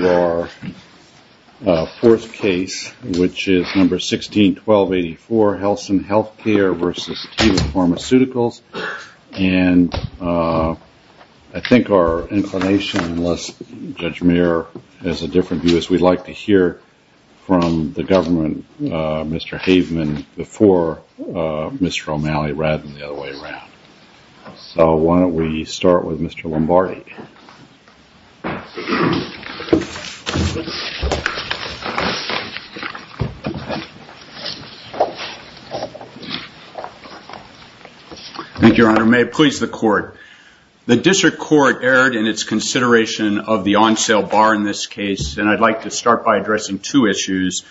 and I think our inclination, unless Judge Mayer has a different view, is we'd like to hear from the government, Mr. Haveman, before Mr. O'Malley, rather than the other way around. So why don't we start with Mr. Lombardi. Thank you, Your Honor. May it please the Court. The District Court erred in its consideration of the on-sale bar in this case, and I'd like to start by addressing two issues.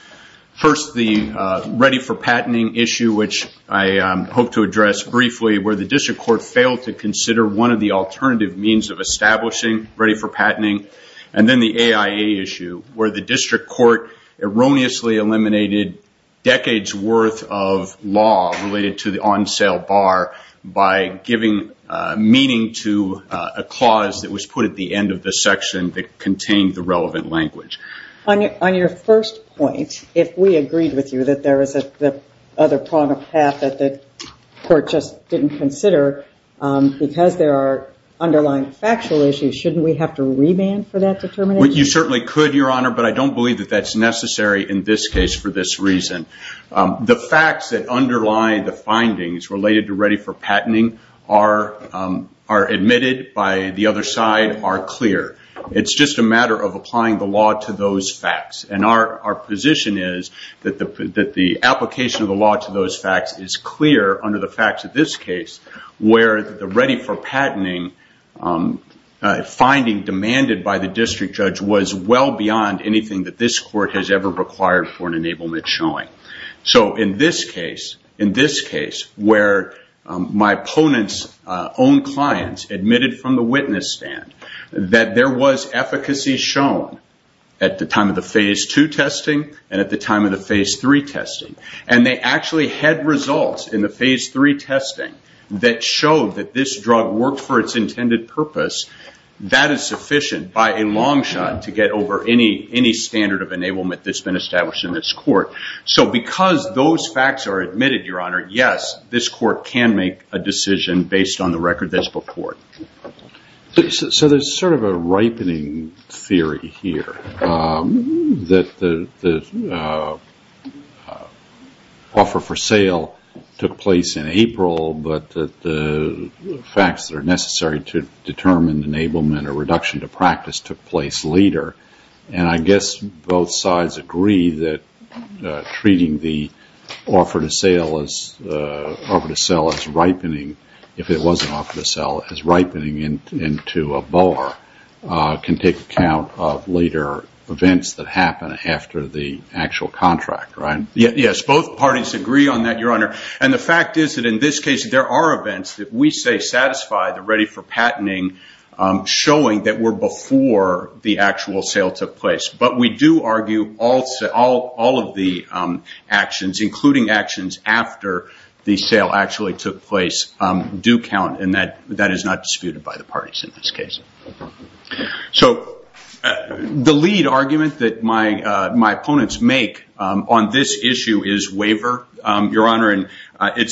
First, the ready-for-patenting issue, which I hope to address briefly, where the District Court failed to consider one of the alternative means of establishing ready-for-patenting. And then the AIA issue, where the District Court erroneously eliminated decades' worth of law related to the on-sale bar by giving meaning to a clause that was put at the end of the section that contained the relevant language. On your first point, if we agreed with you that there is another prong of path that the Court just didn't consider, because there are underlying factual issues, shouldn't we have to remand for that determination? You certainly could, Your Honor, but I don't believe that that's necessary in this case for this reason. The facts that underlie the findings related to ready-for-patenting are admitted by the other side, are clear. It's just a matter of applying the law to those facts, and our position is that the application of the law to those facts is clear under the facts of this case, where the ready-for-patenting finding demanded by the District Judge was well beyond anything that this Court has ever required for an enablement showing. In this case, where my opponent's own clients admitted from the witness stand that there was efficacy shown at the time of the Phase 2 testing and at the time of the Phase 3 testing, and they actually had results in the Phase 3 testing that showed that this drug worked for its intended purpose, that is sufficient by a long shot to get over any standard of enablement that's been established in this Court. So because those facts are admitted, Your Honor, yes, this Court can make a decision based on the record that's before it. So there's sort of a ripening theory here that the offer for sale took place in April, but that the facts that are necessary to determine enablement or reduction to practice took place later, and I guess both sides agree that treating the offer to sell as ripening into a bar can take account of later events that happen after the actual contract, right? Yes, both parties agree on that, Your Honor, and the fact is that in this case there are events that we say satisfy the ready-for-patenting showing that were before the actual sale took place. But we do argue all of the actions, including actions after the sale actually took place, do count, and that is not disputed by the parties in this case. So the lead argument that my opponents make on this issue is waiver, Your Honor, and there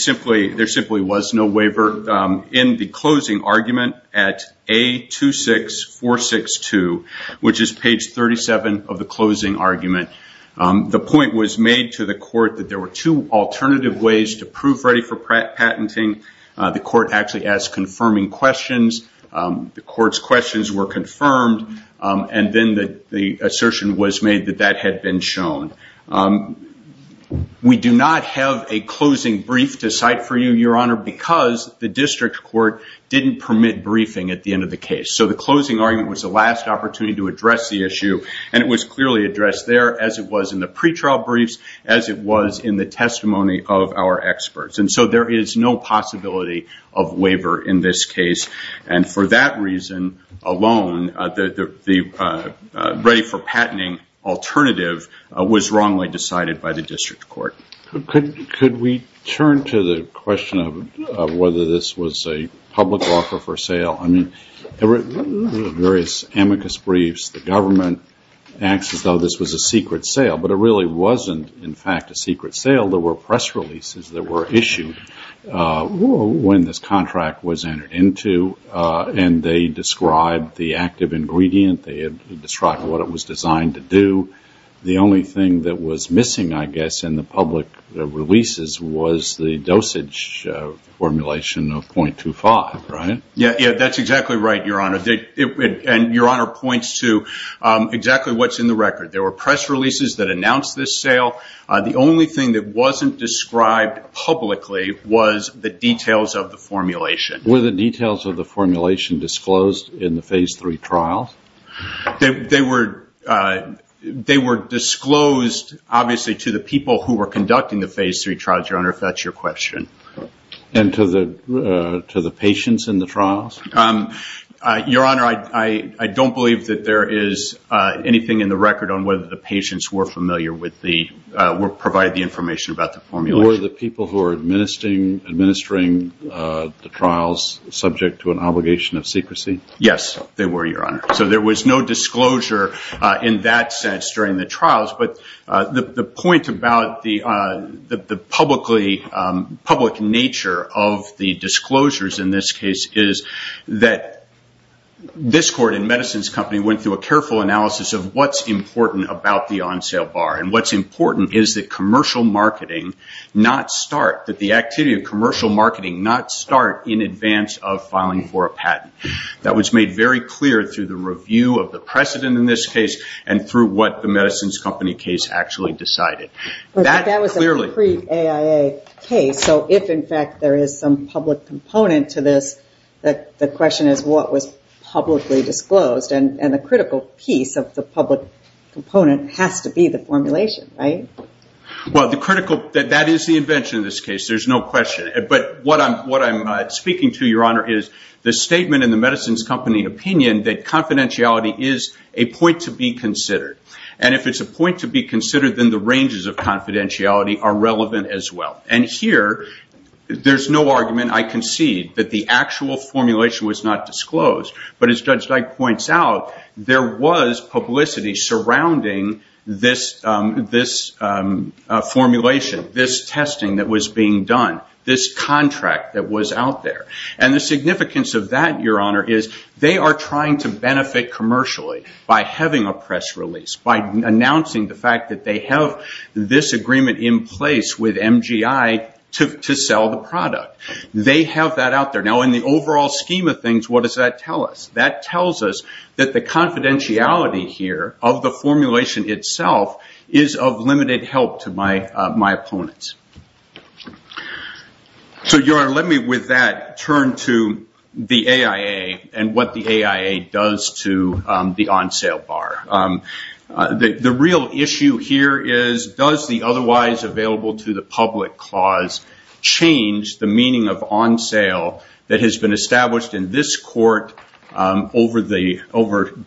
simply was no waiver. In the closing argument at A26462, which is page 37 of the closing argument, the point was made to the Court that there were two alternative ways to prove ready-for-patenting. The Court actually asked confirming questions. The Court's questions were confirmed, and then the assertion was made that that had been shown. We do not have a closing brief to cite for you, Your Honor, because the district court didn't permit briefing at the end of the case. So the closing argument was the last opportunity to address the issue, and it was clearly addressed there as it was in the pretrial briefs, as it was in the testimony of our experts, and so there is no possibility of waiver in this case. And for that reason alone, the ready-for-patenting alternative was wrongly decided by the district court. Could we turn to the question of whether this was a public offer for sale? I mean, there were various amicus briefs. The government acts as though this was a secret sale, but it really wasn't, in fact, a secret sale. There were press releases that were issued when this contract was entered into, and they described the active ingredient. They described what it was designed to do. The only thing that was missing, I guess, in the public releases was the dosage formulation of 0.25, right? Yeah, that's exactly right, Your Honor, and Your Honor points to exactly what's in the record. There were press releases that announced this sale. The only thing that wasn't described publicly was the details of the formulation. Were the details of the formulation disclosed in the Phase III trials? They were disclosed, obviously, to the people who were conducting the Phase III trials, Your Honor, if that's your question. Your Honor, I don't believe that there is anything in the record on whether the patients were familiar with the – were provided the information about the formulation. Were the people who were administering the trials subject to an obligation of secrecy? Yes, they were, Your Honor, so there was no disclosure in that sense during the trials, but the point about the public nature of the disclosures in this case is that this court and medicines company went through a careful analysis of what's important about the on-sale bar, and what's important is that commercial marketing not start – that the activity of commercial marketing not start in advance of filing for a patent. That was made very clear through the review of the precedent in this case, and through what the medicines company case actually decided. But that was a pre-AIA case, so if, in fact, there is some public component to this, the question is what was publicly disclosed, and the critical piece of the public component has to be the formulation, right? Well, the critical – that is the invention of this case, there's no question. But what I'm speaking to, Your Honor, is the statement in the medicines company opinion that confidentiality is a point to be considered, and if it's a point to be considered, then the ranges of confidentiality are relevant as well. And here, there's no argument, I concede, that the actual formulation was not disclosed, but as Judge Dyke points out, there was publicity surrounding this formulation, this testing that was being done, this contract that was out there. And the significance of that, Your Honor, is they are trying to benefit commercially by having a press release, by announcing the fact that they have this agreement in place with MGI to sell the product. They have that out there. Now, in the overall scheme of things, what does that tell us? That tells us that the confidentiality here of the formulation itself is of limited help to my opponents. So, Your Honor, let me with that turn to the AIA and what the AIA does to the on-sale bar. The real issue here is, does the otherwise available to the public clause change the meaning of on-sale that has been established in this court over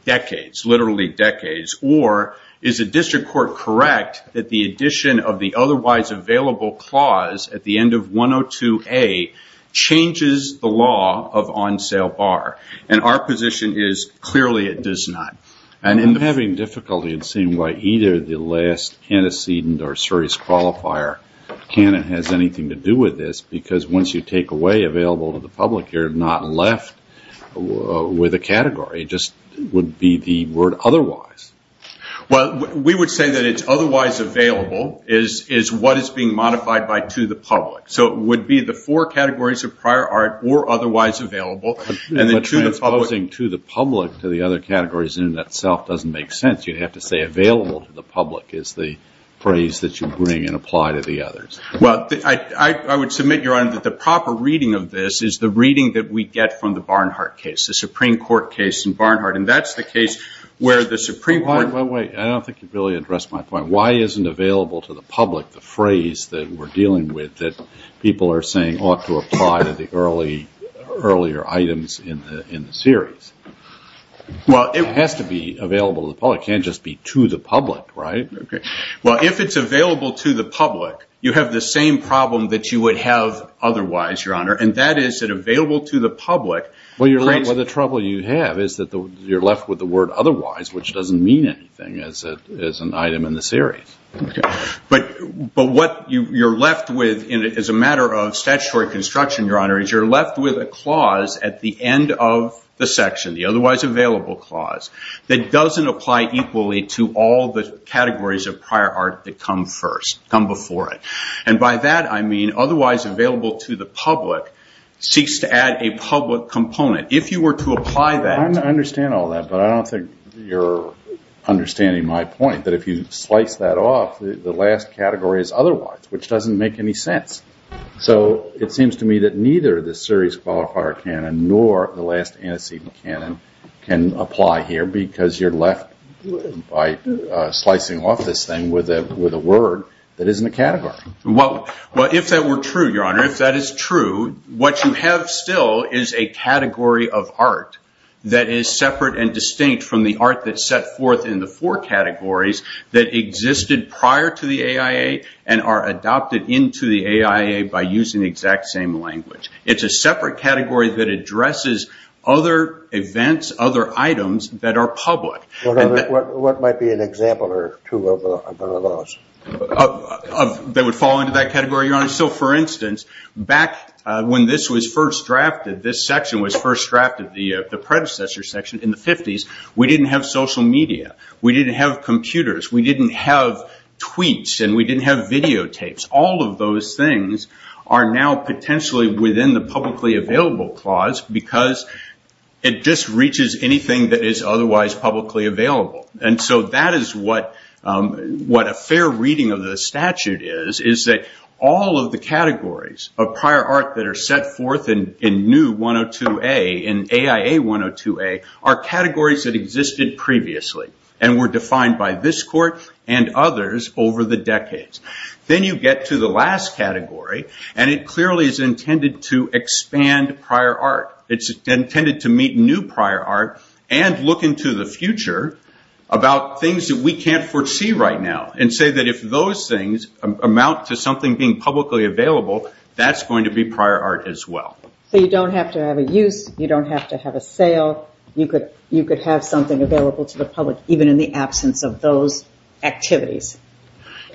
decades, literally decades? Or, is the district court correct that the addition of the otherwise available clause at the end of 102A changes the law of on-sale bar? And our position is, clearly, it does not. I'm having difficulty in seeing why either the last antecedent or serious qualifier canon has anything to do with this. Because once you take away available to the public, you're not left with a category. It just would be the word otherwise. Well, we would say that it's otherwise available is what is being modified by to the public. So it would be the four categories of prior art or otherwise available. But transposing to the public to the other categories in and of itself doesn't make sense. You'd have to say available to the public is the phrase that you bring and apply to the others. Well, I would submit, Your Honor, that the proper reading of this is the reading that we get from the Barnhart case, the Supreme Court case in Barnhart. And that's the case where the Supreme Court... Wait, wait, wait. I don't think you've really addressed my point. Why isn't available to the public the phrase that we're dealing with that people are saying ought to apply to the earlier items in the series? Well, it has to be available to the public. It can't just be to the public, right? Well, if it's available to the public, you have the same problem that you would have otherwise, Your Honor. And that is that available to the public... Well, the trouble you have is that you're left with the word otherwise, which doesn't mean anything as an item in the series. But what you're left with as a matter of statutory construction, Your Honor, is you're left with a clause at the end of the section, the otherwise available clause, that doesn't apply equally to all the categories of prior art that come first, come before it. And by that, I mean otherwise available to the public seeks to add a public component. If you were to apply that... I understand all that, but I don't think you're understanding my point, that if you slice that off, the last category is otherwise, which doesn't make any sense. So it seems to me that neither the series qualifier canon nor the last antecedent canon can apply here because you're left by slicing off this thing with a word that isn't a category. Well, if that were true, Your Honor, if that is true, what you have still is a category of art that is separate and distinct from the art that's set forth in the four categories that existed prior to the AIA and are adopted into the AIA by using the exact same language. It's a separate category that addresses other events, other items that are public. What might be an example or two of those? That would fall into that category, Your Honor? So, for instance, back when this was first drafted, this section was first drafted, the predecessor section in the 50s, we didn't have social media. We didn't have computers. We didn't have tweets, and we didn't have videotapes. All of those things are now potentially within the publicly available clause because it just reaches anything that is otherwise publicly available. That is what a fair reading of the statute is, is that all of the categories of prior art that are set forth in new 102A, in AIA 102A, are categories that existed previously and were defined by this court and others over the decades. Then you get to the last category, and it clearly is intended to expand prior art. It's intended to meet new prior art and look into the future about things that we can't foresee right now and say that if those things amount to something being publicly available, that's going to be prior art as well. You don't have to have a use. You don't have to have a sale. You could have something available to the public even in the absence of those activities.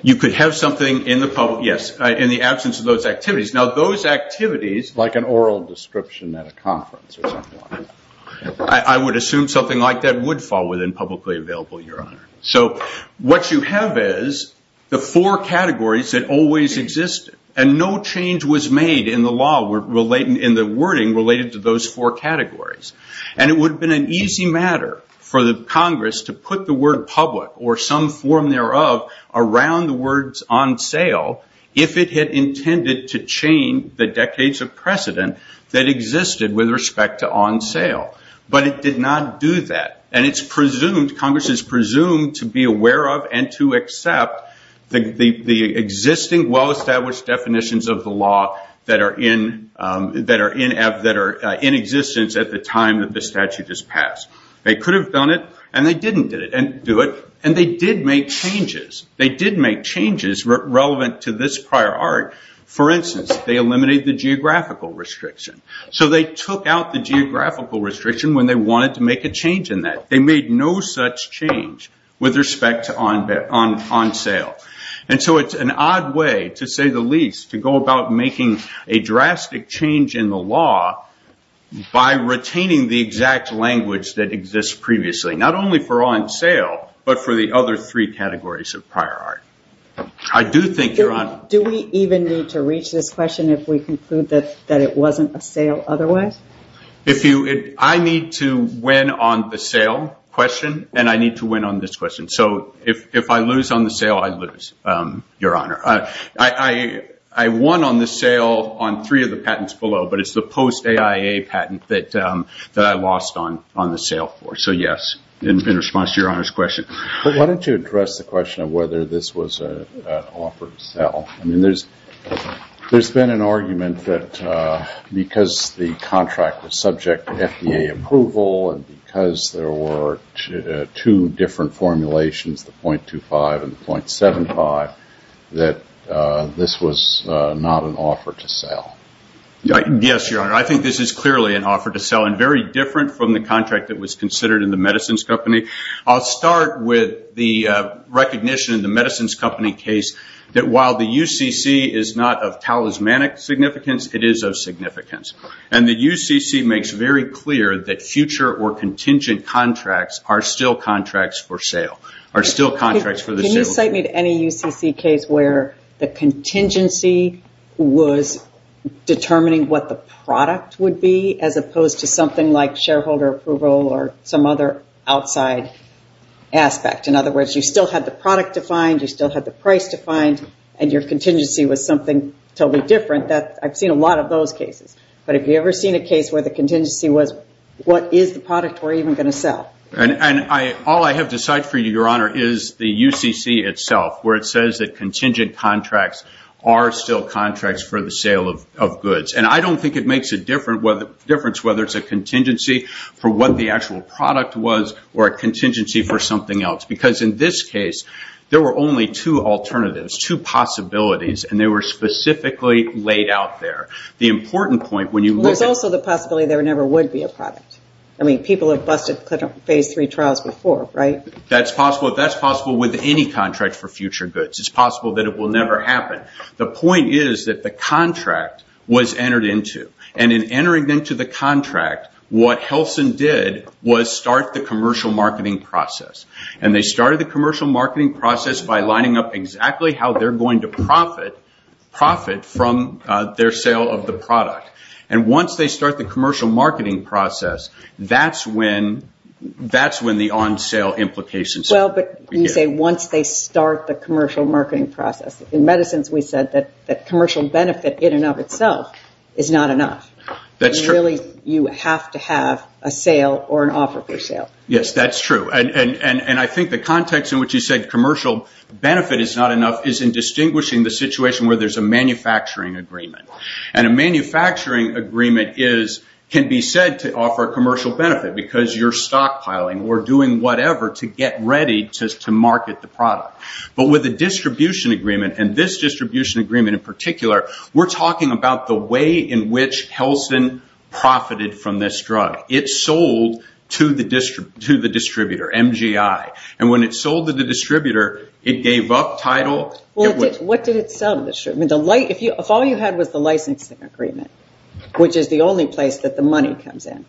You could have something in the absence of those activities. Those activities, like an oral description at a conference or something like that, I would assume something like that would fall within publicly available, Your Honor. What you have is the four categories that always existed, and no change was made in the wording related to those four categories. It would have been an easy matter for the Congress to put the word public or some form thereof around the words on sale if it had intended to chain the decades of precedent that existed with respect to on sale. But it did not do that, and Congress is presumed to be aware of and to accept the existing well-established definitions of the law that are in existence at the time that the statute is passed. They could have done it, and they didn't do it, and they did make changes. Relevant to this prior art, for instance, they eliminated the geographical restriction. They took out the geographical restriction when they wanted to make a change in that. They made no such change with respect to on sale. It's an odd way, to say the least, to go about making a drastic change in the law by retaining the exact language that exists previously, not only for on sale, but for the other three categories of prior art. Do we even need to reach this question if we conclude that it wasn't a sale otherwise? I need to win on the sale question, and I need to win on this question. So if I lose on the sale, I lose, Your Honor. I won on the sale on three of the patents below, but it's the post-AIA patent that I lost on the sale. So yes, in response to Your Honor's question. Why don't you address the question of whether this was an offer to sell? There's been an argument that because the contract was subject to FDA approval, and because there were two different formulations, the .25 and the .75, that this was not an offer to sell. Yes, Your Honor. I think this is clearly an offer to sell, and very different from the contract that was considered in the medicines company. I'll start with the recognition in the medicines company case that while the UCC is not of talismanic significance, it is of significance. And the UCC makes very clear that future or contingent contracts are still contracts for sale. Can you cite me to any UCC case where the contingency was determining what the product would be, as opposed to something like shareholder approval or some other outside aspect? In other words, you still had the product defined, you still had the price defined, and your contingency was something totally different. I've seen a lot of those cases. But have you ever seen a case where the contingency was, what is the product we're even going to sell? All I have to cite for you, Your Honor, is the UCC itself, where it says that contingent contracts are still contracts for the sale of goods. And I don't think it makes a difference whether it's a contingency for what the actual product was, or a contingency for something else. Because in this case, there were only two alternatives, two possibilities, and they were specifically laid out there. There's also the possibility there never would be a product. I mean, people have busted phase three trials before, right? That's possible with any contract for future goods. It's possible that it will never happen. The point is that the contract was entered into. And in entering into the contract, what Helsin did was start the commercial marketing process. And they started the commercial marketing process by lining up exactly how they're going to profit from their sale of the product. And once they start the commercial marketing process, that's when the on-sale implications begin. Well, but you say once they start the commercial marketing process. In medicines, we said that commercial benefit in and of itself is not enough. Really, you have to have a sale or an offer for sale. Yes, that's true. And I think the context in which you said commercial benefit is not enough is in distinguishing the situation where there's a manufacturing agreement. And a manufacturing agreement can be said to offer commercial benefit because you're stockpiling or doing whatever to get ready to market the product. But with a distribution agreement, and this distribution agreement in particular, we're talking about the way in which Helsin profited from this drug. It sold to the distributor, MGI. And when it sold to the distributor, it gave up title. What did it sell to the distributor? If all you had was the licensing agreement, which is the only place that the money comes in,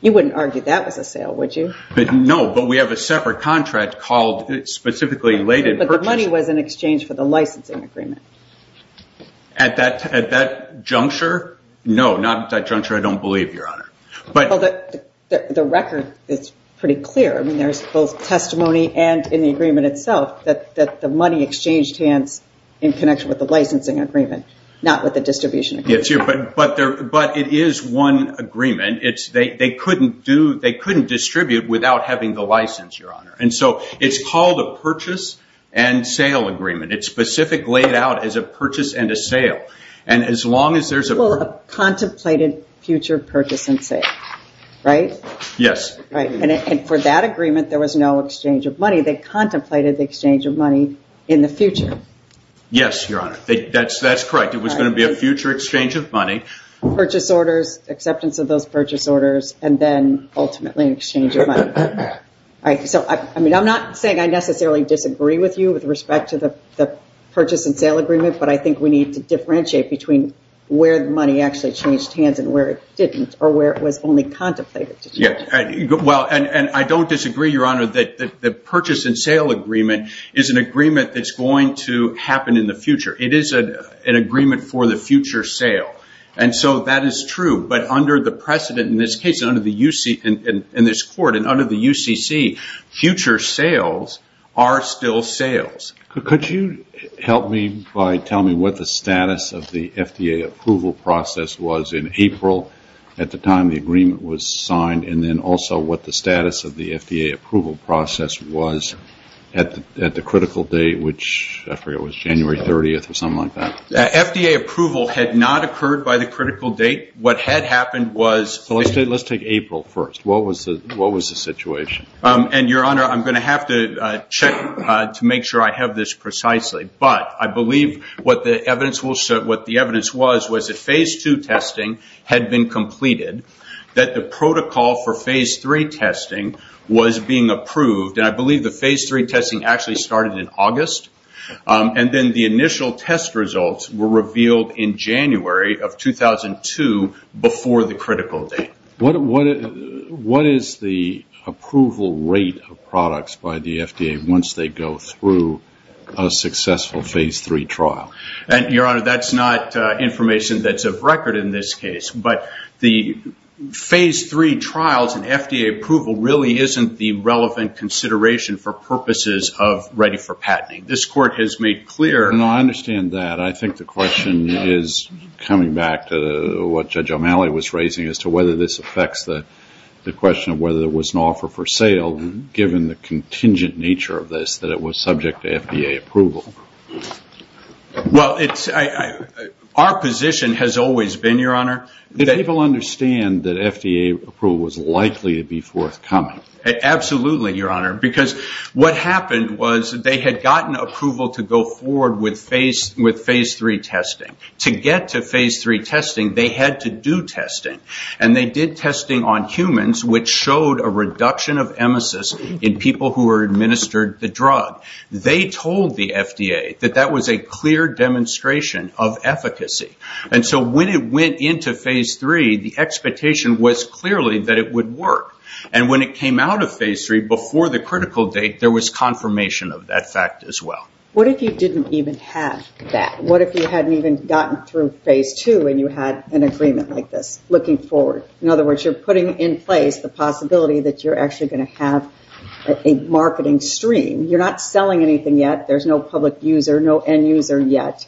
you wouldn't argue that was a sale, would you? No, but we have a separate contract called specifically... But the money was in exchange for the licensing agreement. At that juncture? No, not at that juncture, I don't believe, Your Honor. The record is pretty clear. I mean, there's both testimony and in the agreement itself that the money exchanged hands in connection with the licensing agreement, not with the distribution agreement. But it is one agreement. They couldn't distribute without having the license, Your Honor. And so it's called a purchase and sale agreement. It's specifically laid out as a purchase and a sale. And as long as there's a... Well, a contemplated future purchase and sale, right? Yes. And for that agreement, there was no exchange of money. They contemplated the exchange of money in the future. Yes, Your Honor. That's correct. It was going to be a future exchange of money. Purchase orders, acceptance of those purchase orders, and then ultimately an exchange of money. So I'm not saying I necessarily disagree with you with respect to the purchase and sale agreement, but I think we need to differentiate between where the money actually changed hands and where it didn't, or where it was only contemplated. Well, and I don't disagree, Your Honor, that the purchase and sale agreement is an agreement that's going to happen in the future. It is an agreement for the future sale. And so that is true. But under the precedent in this case, in this court and under the UCC, future sales are still sales. Could you help me by telling me what the status of the FDA approval process was in April at the time the agreement was signed, and then also what the status of the FDA approval process was at the critical date, which I forget, I think it was January 30th or something like that. FDA approval had not occurred by the critical date. What had happened was... Let's take April first. What was the situation? And, Your Honor, I'm going to have to check to make sure I have this precisely. But I believe what the evidence was was that Phase II testing had been completed, that the protocol for Phase III testing was being approved. And I believe the Phase III testing actually started in August. And then the initial test results were revealed in January of 2002 before the critical date. What is the approval rate of products by the FDA once they go through a successful Phase III trial? Your Honor, that's not information that's of record in this case. But the Phase III trials and FDA approval really isn't the relevant consideration for purposes of ready for patenting. This Court has made clear... No, I understand that. I think the question is coming back to what Judge O'Malley was raising as to whether this affects the question of whether there was an offer for sale given the contingent nature of this, that it was subject to FDA approval. Well, it's... Our position has always been, Your Honor... Did people understand that FDA approval was likely to be forthcoming? Absolutely, Your Honor. Because what happened was they had gotten approval to go forward with Phase III testing. To get to Phase III testing, they had to do testing. And they did testing on humans which showed a reduction of emesis in people who were administered the drug. They told the FDA that that was a clear demonstration of efficacy. And so when it went into Phase III, the expectation was clearly that it would work. And when it came out of Phase III, before the critical date, there was confirmation of that fact as well. What if you didn't even have that? What if you hadn't even gotten through Phase II and you had an agreement like this, looking forward? In other words, you're putting in place the possibility that you're actually going to have a marketing stream. You're not selling anything yet. There's no public user, no end user yet.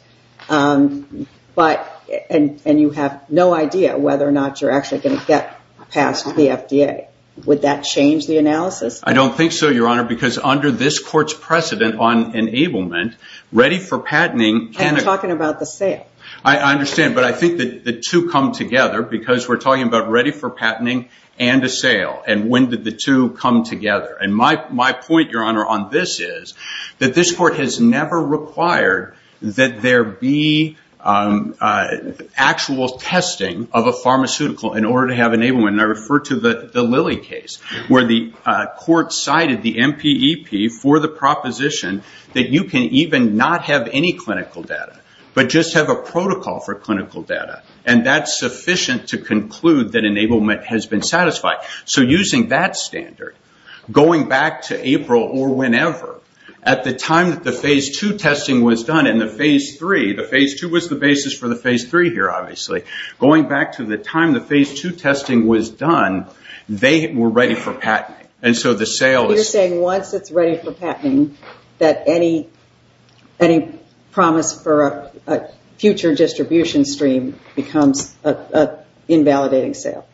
But... And you have no idea whether or not you're actually going to get past the FDA. Would that change the analysis? I don't think so, Your Honor, because under this court's precedent on enablement, ready for patenting... I'm talking about the sale. I understand, but I think the two come together because we're talking about ready for patenting and a sale. And when did the two come together? And my point, Your Honor, on this is that this court has never required that there be actual testing of a pharmaceutical in order to have enablement. And I refer to the Lilly case where the court cited the MPEP for the proposition that you can even not have any clinical data, but just have a protocol for clinical data. And that's sufficient to conclude that enablement has been satisfied. So using that standard, going back to April or whenever, at the time that the Phase II testing was done and the Phase III... The Phase II was the basis for the Phase III here, obviously. Going back to the time the Phase II testing was done, they were ready for patenting. And so the sale is... You're saying once it's ready for patenting that any promise for a future distribution stream becomes an invalidating sale?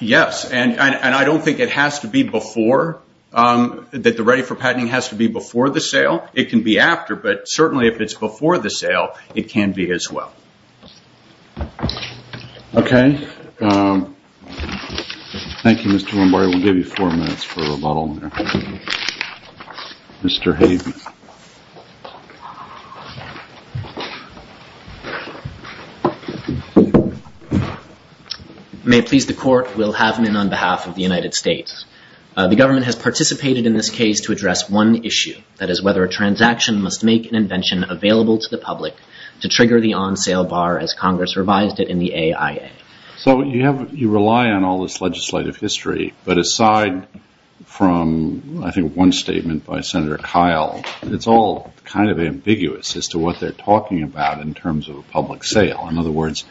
Yes. And I don't think it has to be before, that the ready for patenting has to be before the sale. It can be after, but certainly if it's before the sale, it can be as well. Okay. Thank you, Mr. Lombardi. We'll give you four minutes for a rebuttal there. Mr. Haven. May it please the Court, Will Havenon on behalf of the United States. The government has participated in this case to address one issue, that is whether a transaction could make an invention available to the public to trigger the on-sale bar as Congress revised it in the AIA. So you rely on all this legislative history, but aside from I think one statement by Senator Kyle, it's all kind of ambiguous as to what they're talking about in terms of a public sale. In other words,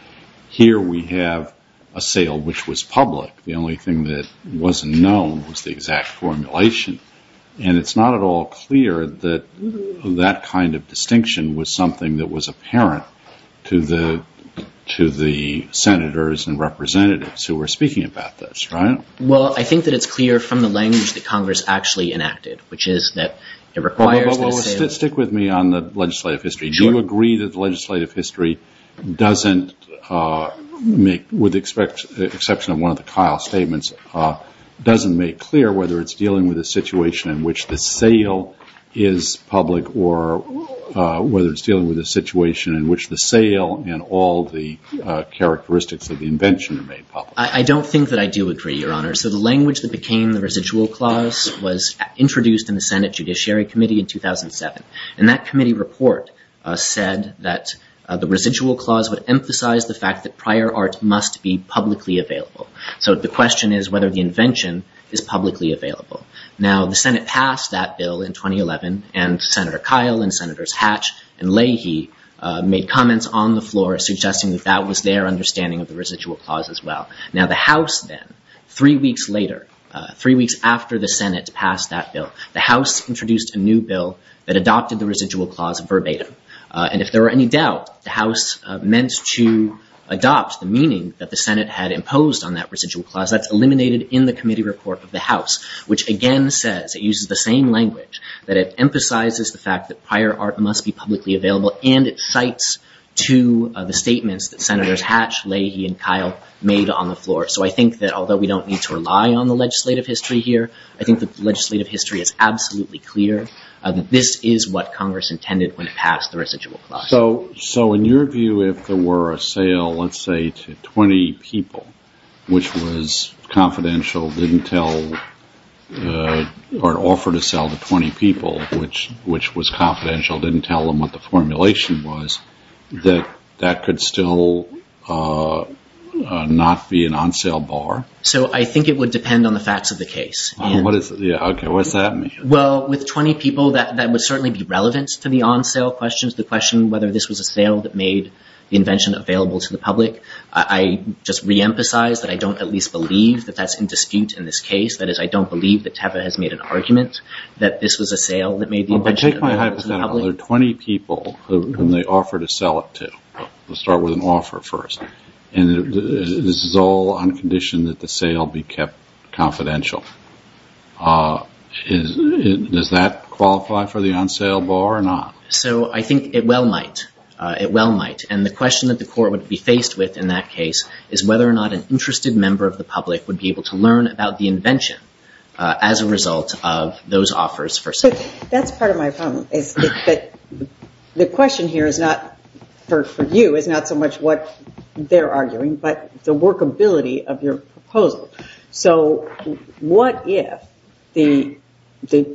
here we have a sale which was public. The only thing that wasn't known was the exact formulation. And it's not at all clear what kind of distinction was something that was apparent to the senators and representatives who were speaking about this, right? Well, I think that it's clear from the language that Congress actually enacted, which is that it requires that a sale Stick with me on the legislative history. Do you agree that the legislative history doesn't make, with the exception of one of the Kyle statements, doesn't make clear whether it's dealing with a situation in which the sale is public or whether it's dealing with a situation in which the sale and all the characteristics of the invention are made public? I don't think that I do agree, Your Honor. So the language that became the residual clause was introduced in the Senate Judiciary Committee in 2007. And that committee report said that the residual clause would emphasize the fact that prior art must be publicly available. So the question is whether the invention is publicly available. Now, the Senate passed that bill in 2011 and Senator Kyle and Senators Hatch and Leahy made comments on the floor suggesting that that was their understanding of the residual clause as well. Now, the House then, three weeks later, three weeks after the Senate passed that bill, the House introduced a new bill that adopted the residual clause verbatim. And if there were any doubt, the House meant to adopt the meaning that the Senate had imposed on that residual clause. That's eliminated in the committee report of the House, which again says it uses the same language that it emphasizes the fact that prior art must be publicly available and it cites to the statements that Senators Hatch, Leahy, and Kyle made on the floor. So I think that although we don't need to rely on the legislative history here, I think the legislative history is absolutely clear that this is what Congress intended when it passed the residual clause. So in your view, if there were a sale, let's say to 20 people, which was confidential, didn't tell or offer to sell to 20 people, which was confidential, didn't tell them what the formulation was, that that could still not be an on-sale bar? So I think it would depend on the facts of the case. Okay, what does that mean? Well, with 20 people, that would certainly be relevant to the on-sale questions, the question whether this was a sale that made the invention available to the public. I just reemphasize that I don't at least believe that that's in dispute in this case. That is, I don't believe that Teva was a sale that made the invention available to the public. Well, take my hypothetical. There are 20 people whom they offer to sell it to. Let's start with an offer first. And this is all on condition that the sale be kept confidential. Does that qualify for the on-sale bar or not? So I think it well might. It well might. And the question that the Court would be faced with an interested member of the public would be able to learn about the invention and how it was sold. That's part of my problem. The question here is not for you, it's not so much what they're arguing, but the workability of your proposal. So what if the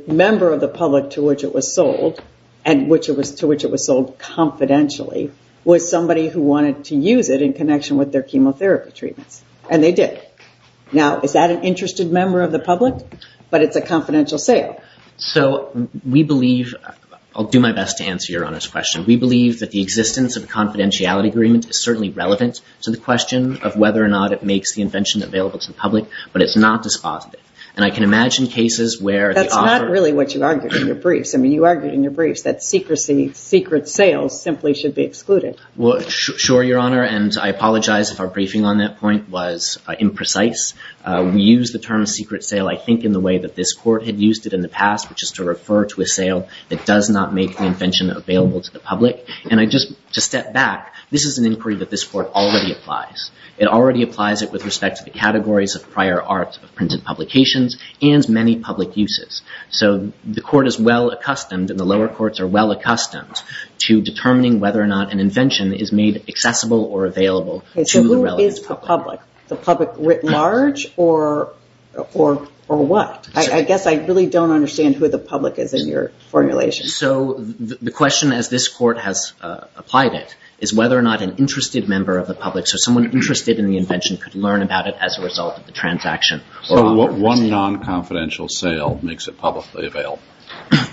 member of the public to which it was sold and to which it was sold confidentially was somebody who wanted to use it in connection with their chemotherapy treatments? And they did. Now, is that an interested member of the public? But it's a confidential sale. We believe, I'll do my best to answer Your Honor's question. We believe that the existence of a confidentiality agreement is certainly relevant to the question of whether or not it makes the invention available to the public, but it's not dispositive. And I can imagine cases where the offer... That's not really what you argued in your briefs. I mean, you argued in your briefs that secrecy, secret sales simply should be excluded. Well, sure, Your Honor. And I apologize if our briefing on that point was imprecise. We use the term secret sale, I think, in the way that this Court had used it in the past, which is to refer to a sale that does not make the invention available to the public. And I just, to step back, this is an inquiry that this Court already applies. It already applies it with respect to the categories of prior art of printed publications and many public uses. So the Court is well accustomed, and the lower courts are well accustomed to determining whether or not an invention is made accessible or available to the relevant public. Okay, so who is the public? The public writ large or what? I really don't understand who the public is in your formulation. So the question, as this Court has applied it, is whether or not an interested member of the public, so someone interested in the invention, could learn about it as a result of the transaction. So what one non-confidential sale makes it publicly available?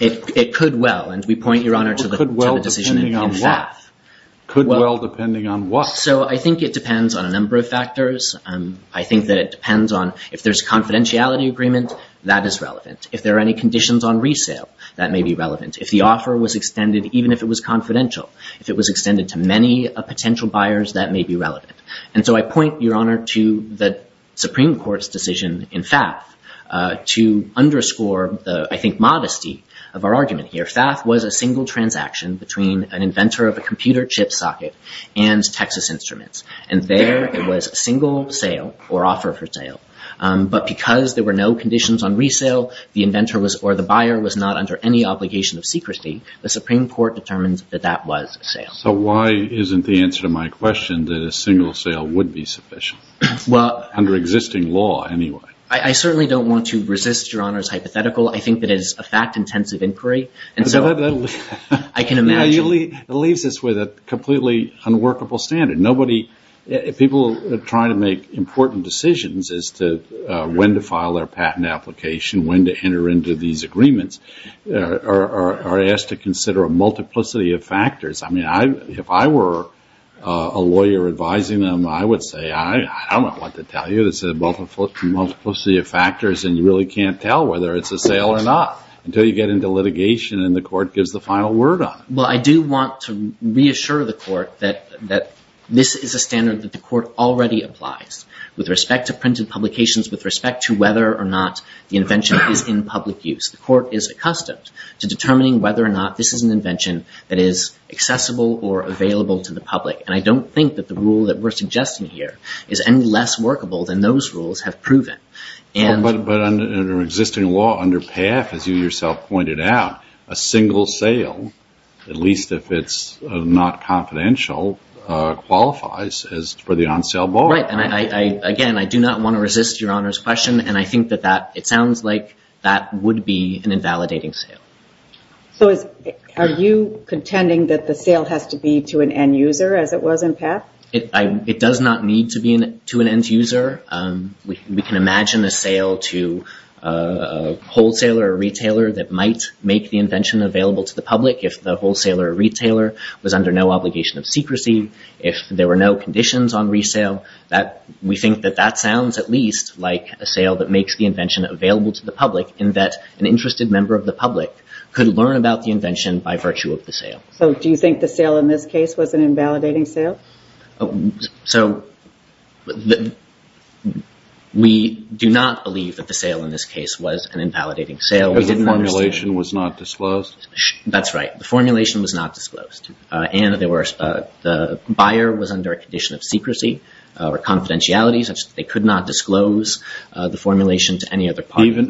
It could well, and we point, Your Honor, to the decision in FATH. Could well depending on what? So I think it depends on a number of factors. I think that it depends on if there's confidentiality agreement, that is relevant. If there are any conditions on resale, that may be relevant. If the offer was extended, even if it was confidential, if it was extended to many potential buyers, that may be relevant. And so I point, Your Honor, to the Supreme Court's decision in FATH to underscore the, I think, modesty of our argument here. FATH was a single transaction between an inventor of a computer chip socket and Texas Instruments. And there it was a single sale and there were no conditions on resale. The inventor or the buyer was not under any obligation of secrecy. The Supreme Court determines that that was a sale. So why isn't the answer to my question that a single sale would be sufficient? Under existing law anyway. I certainly don't want to resist Your Honor's hypothetical. I think that it is a fact-intensive inquiry. I can imagine. It leaves us with a completely unworkable standard. People are trying to make important decisions about when to print a publication, when to enter into these agreements, are asked to consider a multiplicity of factors. I mean, if I were a lawyer advising them, I would say, I don't know what to tell you. It's a multiplicity of factors and you really can't tell whether it's a sale or not until you get into litigation and the court gives the final word on it. Well, I do want to reassure the court that this is a standard that the court already applies and the invention is in public use. The court is accustomed to determining whether or not this is an invention that is accessible or available to the public. And I don't think that the rule that we're suggesting here is any less workable than those rules have proven. But under existing law, under PAF, as you yourself pointed out, a single sale, at least if it's not confidential, qualifies for the on-sale bar. Right. So it sounds like that would be an invalidating sale. So are you contending that the sale has to be to an end-user as it was in PAF? It does not need to be to an end-user. We can imagine a sale to a wholesaler or retailer that might make the invention available to the public if the wholesaler or retailer was under no obligation of secrecy, if there were no conditions on resale. We think that that sounds at least reasonable to the public in that an interested member of the public could learn about the invention by virtue of the sale. So do you think the sale in this case was an invalidating sale? So we do not believe that the sale in this case was an invalidating sale. The formulation was not disclosed? That's right. The formulation was not disclosed. And the buyer was under a condition of secrecy or confidentiality such that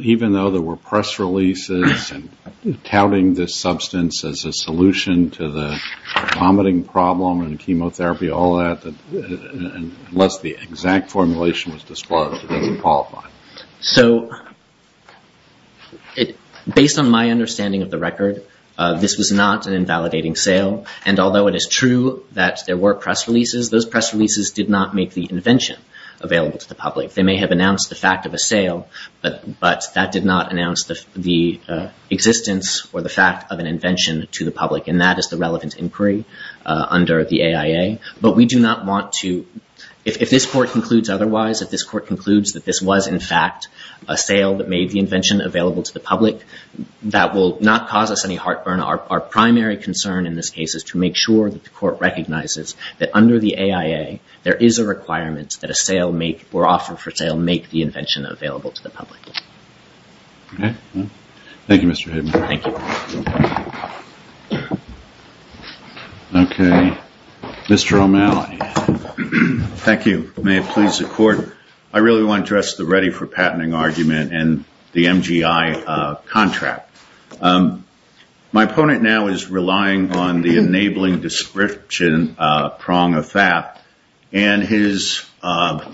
even though there were press releases and touting this substance as a solution to the vomiting problem and chemotherapy, all that, unless the exact formulation was disclosed, it doesn't qualify. So based on my understanding of the record, this was not an invalidating sale. And although it is true that there were press releases, those press releases did not make the invention available to the public. They may have announced the fact of a sale, but that did not announce the existence or the fact of an invention to the public. And that is the relevant inquiry under the AIA. But we do not want to, if this Court concludes otherwise, if this Court concludes that this was in fact a sale that made the invention available to the public, that will not cause us any heartburn. Our primary concern in this case is to make sure that the Court recognizes that under the AIA there is a requirement that a sale make, or offer for sale, make the invention available to the public. Okay. Thank you, Mr. Hayden. Thank you. Okay. Mr. O'Malley. Thank you. May it please the Court. I really want to address the ready for patenting argument and the MGI contract. My opponent now is relying on the enabling description prong of that and his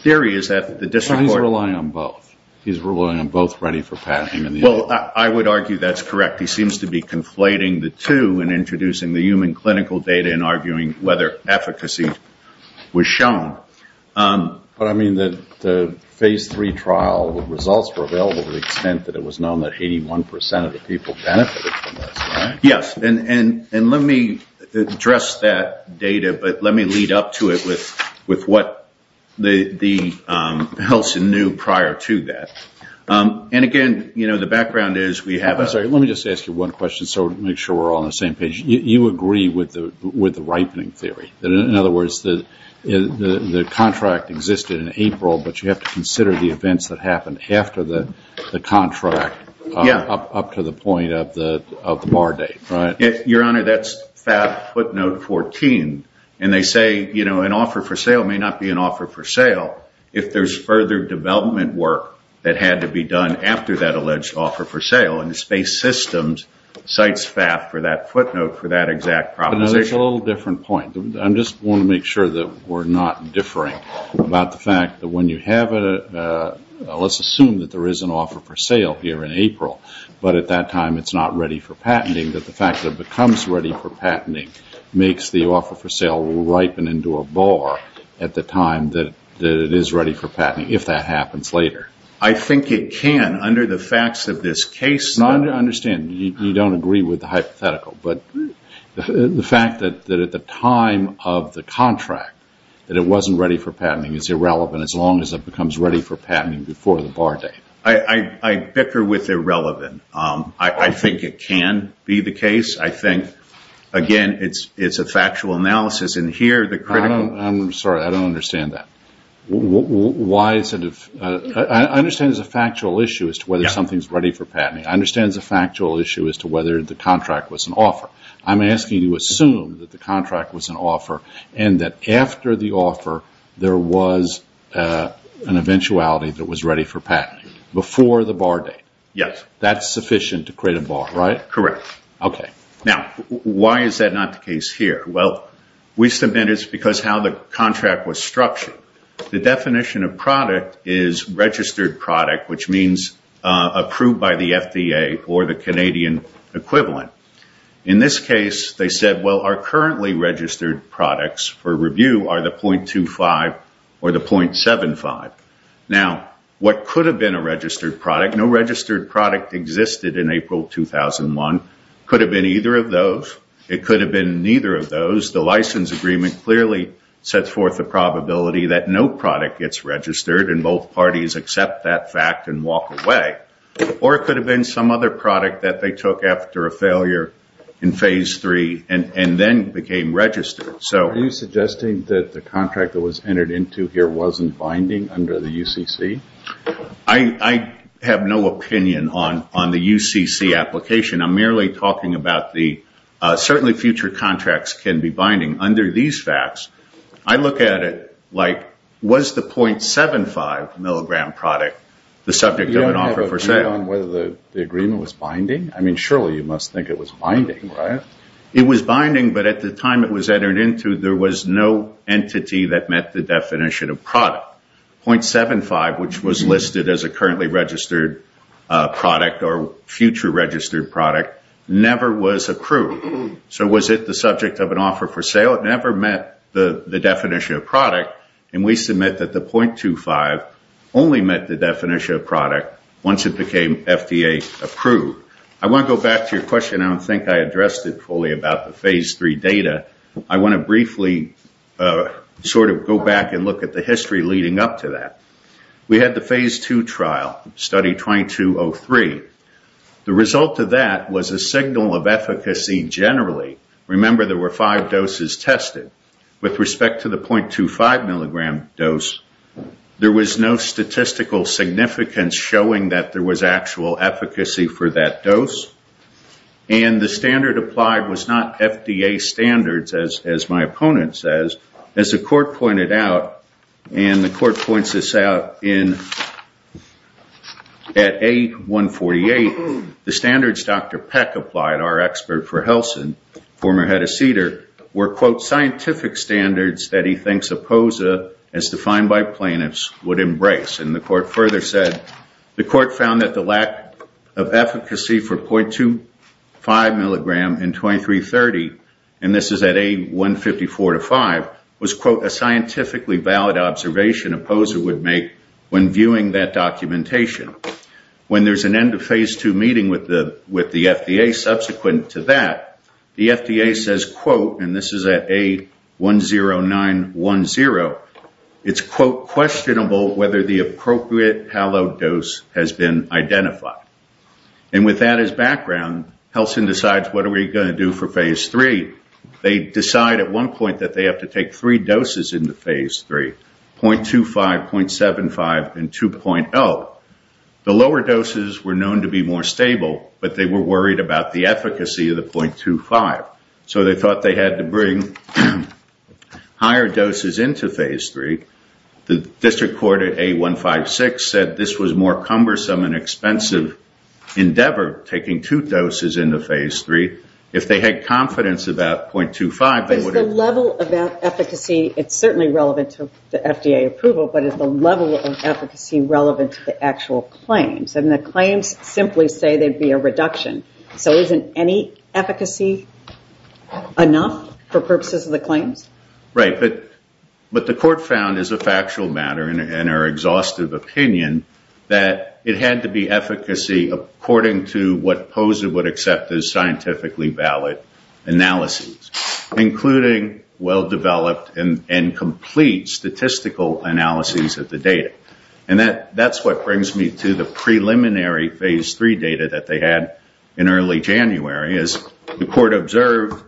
theory is that the district court He's relying on both. He's relying on both ready for patenting. Well, I would argue that's correct. He seems to be conflating the two and introducing the human clinical data and arguing whether efficacy was shown. But I mean that the phase three trial results were available to the extent that it was known that 81% of the people benefited from this, right? Yes. And let me address that data but let me lead up to it with what the health knew prior to that. And again, the background is we have a Let me just ask you one question so we can make sure we're all on the same page. You agree with the ripening theory. In other words, the contract existed in April but you have to consider the events that happened after the contract up to the point of the bar date, right? Your Honor, that's FAB footnote 14. And they say, you know, an offer for sale may not be an offer for sale if there's further development work that had to be done after that alleged offer for sale and Space Systems cites FAB for that footnote for that exact proposition. That's a little different point. I just want to make sure that we're not differing about the fact that when you have a let's assume that there is an offer for sale here in April but at that time it's not ready for patenting that the fact that it becomes ready for patenting makes the offer for sale ripen into a bar at the time that it is ready for patenting if that happens later. I think it can under the facts of this case. I understand. You don't agree with the hypothetical but the fact that at the time of the contract that it wasn't ready for patenting is irrelevant as long as it becomes ready for patenting before the bar date. I bicker with irrelevant. I think it can be the case. I think again it's a factual analysis and here the critical... I'm sorry. I don't understand that. Why is it I understand it's a factual issue as to whether something is ready for patenting. I understand it's a factual issue as to whether the contract was an offer. I'm asking you to assume that the contract was an offer and that after the offer there was an eventuality that was ready for patenting before the bar date. Yes. That's sufficient to create a bar, right? Correct. Okay. Now, why is that not the case here? Well, we submitted it because how the contract was structured. The definition of product is registered product which means approved by the FDA or the Canadian equivalent. In this case they said well, our currently registered products for review are the .25 or the .75. Now, what could have been a registered product, no registered product existed in April 2001. It could have been either of those. It could have been neither of those. The license agreement clearly sets forth the probability that no product gets registered and both parties accept that fact and walk away or it could have been some other product that they took after a failure in phase three and then became registered. Are you suggesting that the contract that was entered into here wasn't binding under the UCC? I have no opinion on the UCC application. I'm merely talking about the certainly future contracts can be binding under these facts. I look at it like was the .75 milligram product the subject of an offer for sale? You don't have a view on whether the agreement was binding? Surely you must think it was binding, right? It was binding but at the time it was entered into there was no entity that met the definition of product. .75 which was listed as a currently registered product or future registered product never was approved. So was it the subject of an offer for sale? It never met the definition of product and we submit that the .25 only met the definition of product once it became FDA approved. I want to go back to your question. I don't think I addressed it fully about the phase 3 data. I want to briefly sort of go back and look at the history leading up to that. We had the phase 2 trial, study 2203. The result of that was a signal of efficacy generally. Remember there were five doses tested. With respect to the .25 milligram dose there was no statistical significance showing that there was actual efficacy for that dose and the standard applied was not FDA standards as my opponent says. As the court pointed out and the court points this out in at A148 the standards Dr. Peck applied our expert for former head of CEDAR were scientific standards that he thinks opposed as defined by plaintiffs would embrace. The court found the lack of efficacy for .25 milligram in 2330 and this is at A154-5 was a scientifically valid observation opposed would make when viewing that documentation. When there is an end of phase 2 meeting with the FDA subsequent to that the FDA says quote and this is at A109-10 it's quote questionable whether the appropriate dose has been identified. With that as background they decide what are we going to do for phase 3. They decide they have to take three doses .25 and 2.0. The lower doses were known to be more stable but they were worried about the efficacy of the .25. They thought they had to bring higher doses into phase 3. The district court said this was more cumbersome and expensive endeavor taking two doses phase 3. If they had confidence about .25 they would have to bring higher doses into phase 3. The court found it was a factual matter and our opinion that it had to be efficacy according to what POSA would accept as scientifically valid analysis including well-developed and complete statistical analysis of the data. That is what brings me to the preliminary phase 3 data they had in early January. As the court observed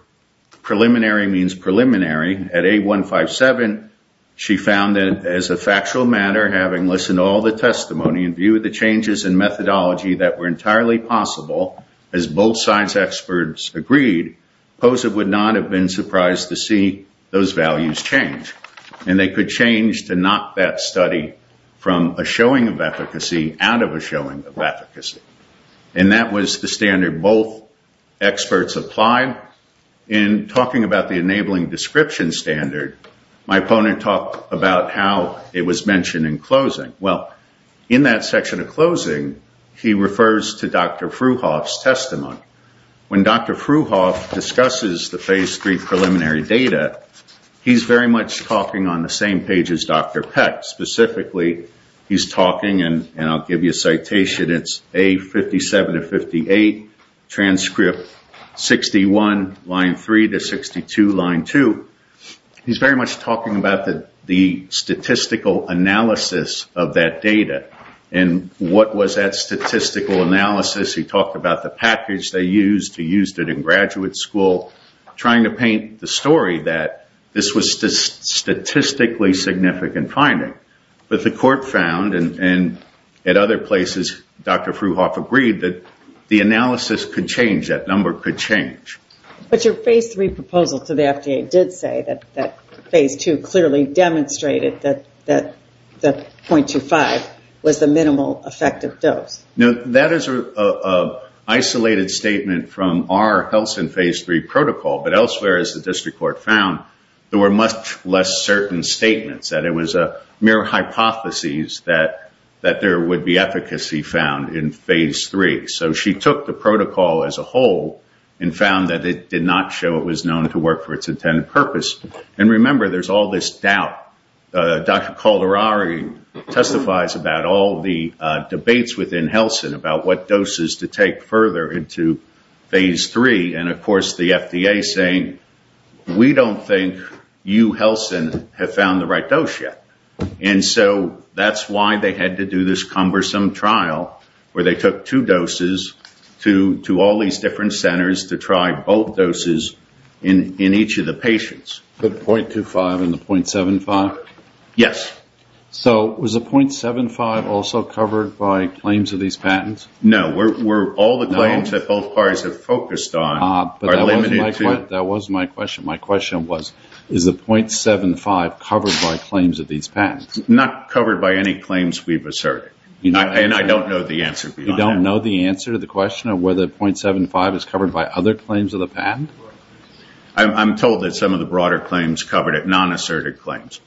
preliminary means preliminary. At A157 she found as a factual matter in view of the changes in methodology that were entirely possible as both science experts agreed POSA would not have been surprised to see those values change. They could change to not that study from a showing of efficacy out of a showing of efficacy. That was the standard both experts applied. In talking about the enabling description standard, my opponent talked about how it was mentioned in closing. In that section of closing he refers to Dr. Fruhoff's testimony. When Dr. Fruhoff discusses the preliminary data, he is talking on the same page as Dr. Peck. Specifically he is talking about the statistical analysis of that data. And what was that statistical analysis? He talked about the package they used. He used it in graduate school. Trying to paint the story that this was statistically significant finding. But the court found and at other places Dr. Fruhoff agreed that the analysis could change. That number could change. That is an isolated statement from our health and phase 3 protocol but elsewhere as the district court found there were much less certain statements. It was a mere hypothesis that there would be efficacy found in phase 3. She took the protocol as a whole and found it did not show it was known to work for its intended purpose. Remember there is all this doubt. Dr. Calderari testifies about all the debates about what doses to take further into phase 3 and of course the FDA saying we don't think you have found the right dose yet. That is why they had to do this cumbersome trial where they took two doses to all these different centers to try both doses in each of the patients. Was the .75 also covered by claims of these patents? Not covered by any claims we have asserted. I don't know the answer. You don't know the answer to the question of whether .75 is covered by other claims of the patent? I am told some of the broader claims covered nonasserted claims.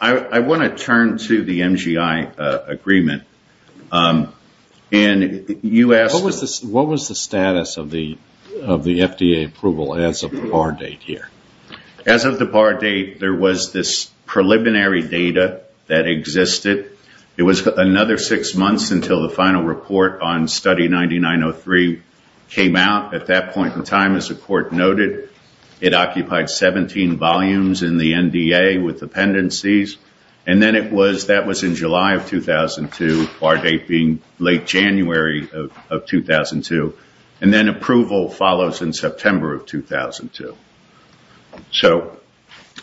I want to turn to the MGI agreement. You asked. What was the status of the FDA approval as of the bar date here? As of the bar date, there was this preliminary data that existed. It was another six months until the final report on study 9903 came out. At that point in time, as the court noted, it occupied 17 volumes in the NDA with dependencies. That was in July of 2002, the date January of 2002. Approval follows in September of 2002.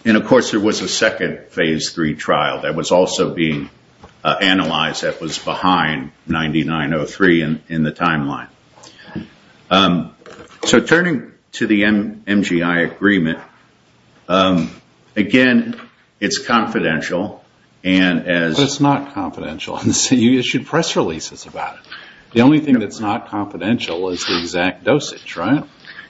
Of course, there was a second phase three trial that was also being analyzed and that was behind 9903 in the timeline. Turning to the MGI agreement, again, it's confidential. It's not confidential. You issued press releases about it. The only thing that's not confidential is the exact dosage, right?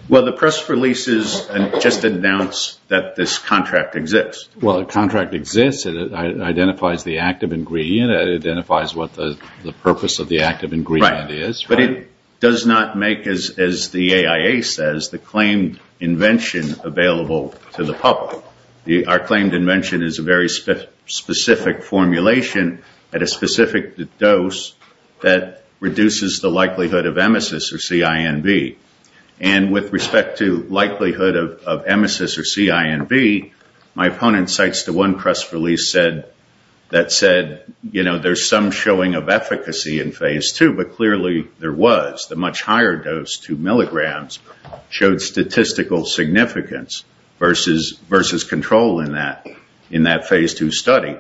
The press releases just announced that this contract exists. It identifies the active ingredient. It identifies what the purpose of the active ingredient is. But it does not make, as the AIA says, the claimed invention available to the public. Our claimed invention is a very specific formulation at a specific dose that reduces the likelihood of emesis or CINB. And with respect to likelihood of emesis or CINB, there's some showing of efficacy in phase 2, but clearly there was. The much higher dose, 2 milligrams, showed statistical significance versus control in that phase 2 study.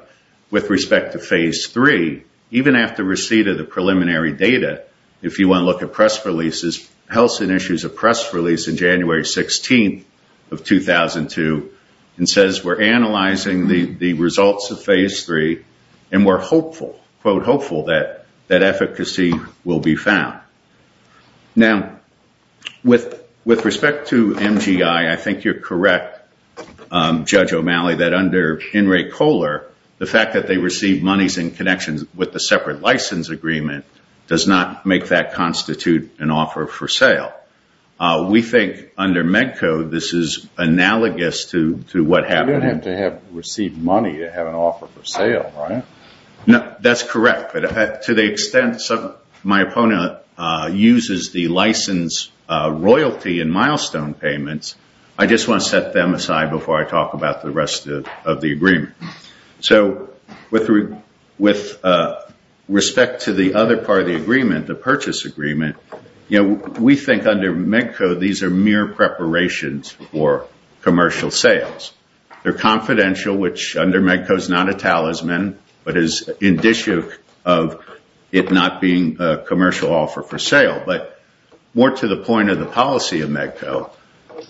With respect to phase 3, even after receipt of the preliminary data, if you want to look at press releases, Helson released a press release on January 16th of 2002 and says we're analyzing the results of phase 3 and we're hopeful, quote hopeful, that efficacy will be found. Now, with respect to MGI, I think you're correct, Judge O'Malley, that under Enright Kohler, the fact that they received monies in connection with the separate license agreement does not make that constitute an offer for sale. We think under Medco, this is analogous to what happened. You don't have to receive money to have an offer for sale, right? That's correct. To the extent my opponent uses the license royalty and milestone payments, I just want to set them aside before I talk about the rest of the agreement. So with respect to the other part of the agreement, the purchase agreement, we think under Medco, these are mere preparations for commercial sales. They're confidential, which under Medco is not a talisman, but is indicative of it not being a commercial offer for sale, but more to the point of the policy of Medco. So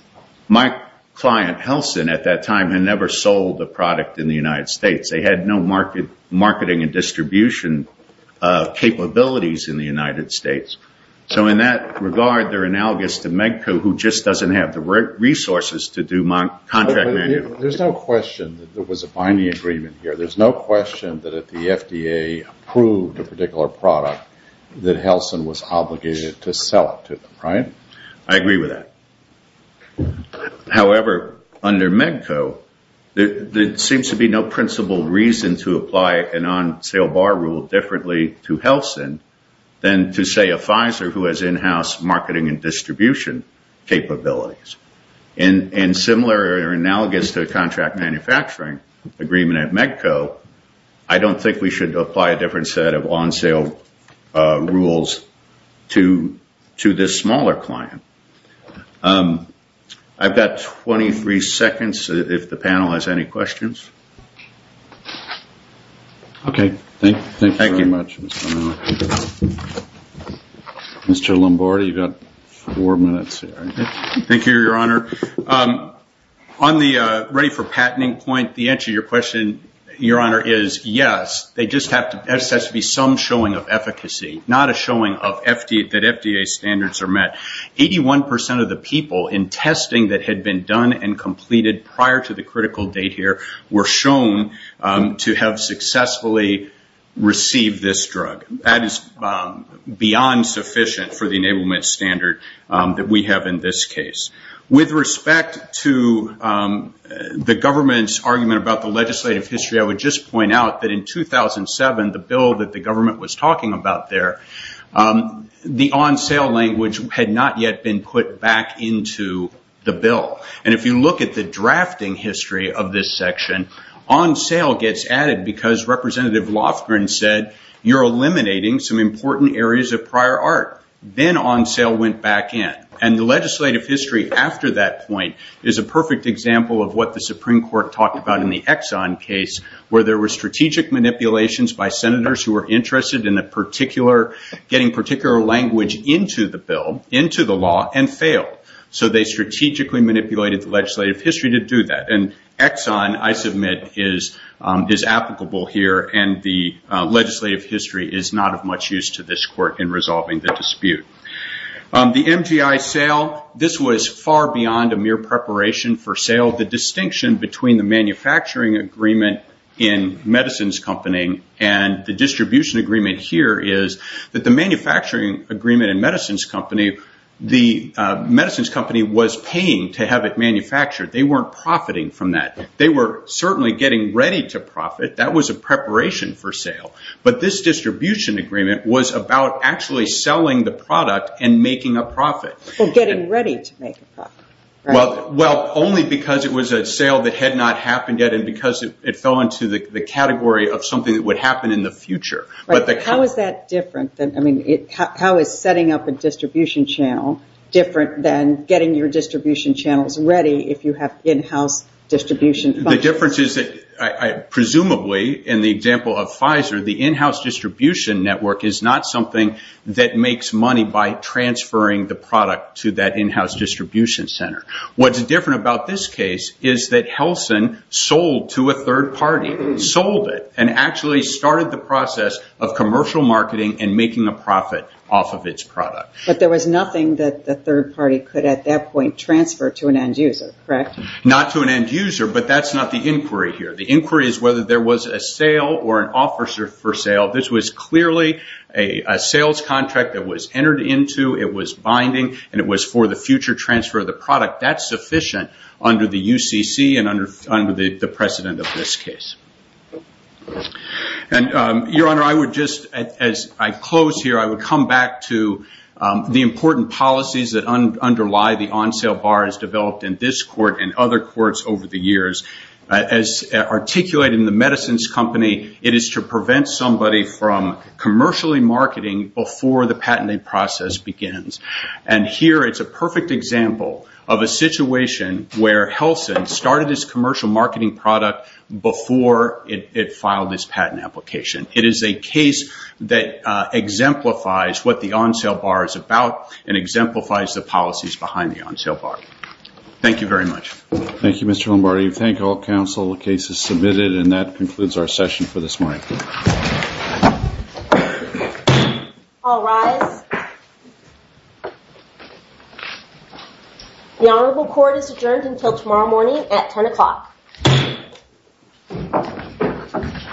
my client Helson at that time had never sold a product in the United States. They had no marketing and distribution capabilities in the United States. that regard, they're analogous to Medco, who just doesn't have the resources to do contract manuals. There's no question that there was a problem there. However, under Medco, there seems to be no principle reason to apply an on-sale bar rule differently to Helson than to, say, a Pfizer who has in-house marketing and distribution capabilities. And similar or analogous to contract manufacturing agreement at Medco, I don't think we should apply a different set of on-sale rules to this smaller client. I've got 23 seconds if the panel has any questions. Okay. much. Mr. Lombardi, you've got four minutes here. Thank you, Your Honor. On the ready for patenting point, the answer to your question, Your Honor, is yes, there just has to be some showing of efficacy, not a showing that FDA standards are met. 81% of the people in this room who have been done and completed prior to the critical date here were shown to have successfully received this drug. That is beyond sufficient for the enablement standard that we have in this case. With respect to the government's argument about the legislative history, I would just point out that in 2007, the bill that was passed Court, the legislative history went back into the bill. If you look at the drafting history of this section, on sale gets added because Representative Lofgren said you're eliminating some important areas of prior art. Then on sale went back in. The legislative history went back into the bill and failed. They strategically manipulated the legislative history to do that. Exxon, I submit, is applicable here and the legislative history is not of much use to this court in resolving the dispute. The MGI sale, this was far beyond a manufacturing agreement in medicines company. The medicines company was paying to have it manufactured. They weren't profiting from that. They were getting ready to profit. That was a preparation for sale. This distribution agreement was about selling the product and making a profit. Only because it was a sale that had not happened in the future. How is setting up a distribution channel different than getting your distribution channels ready if you have in-house distribution functions? Presumably, in the example of Pfizer, the in-house distribution network is not something that makes money by transferring the product to that in-house distribution center. What is different about this case is that Helson sold to a third party. He sold it and started the process of commercial marketing and making a profit off of its product. There was nothing that the third party could transfer to an end user, correct? Not to an end user, but that is not the inquiry. The inquiry is whether there was a sale or an officer for sale. This was clearly a sales contract that was entered into, it was binding, and it was for the future transfer of the product. That is sufficient under the UCC and under the precedent of this case. Your Honor, as I close here, I would come back to the important policies that underlie the on-sale bar as developed in this court and other courts over the years. As articulated in the medicines company, it is to prevent somebody from commercially marketing before the patenting process begins. Here, it is a perfect example of a situation where Helson started this commercial marketing product before it filed this patent application. It is a case that exemplifies what the on-sale bar is about and exemplifies the policies behind the on-sale bar. Thank you very much. Thank you, Mr. Lombardi. I thank all counsel. The case is submitted and that concludes our session for this morning. All rise. The Honorable Court is adjourned until tomorrow morning at 10 o'clock. �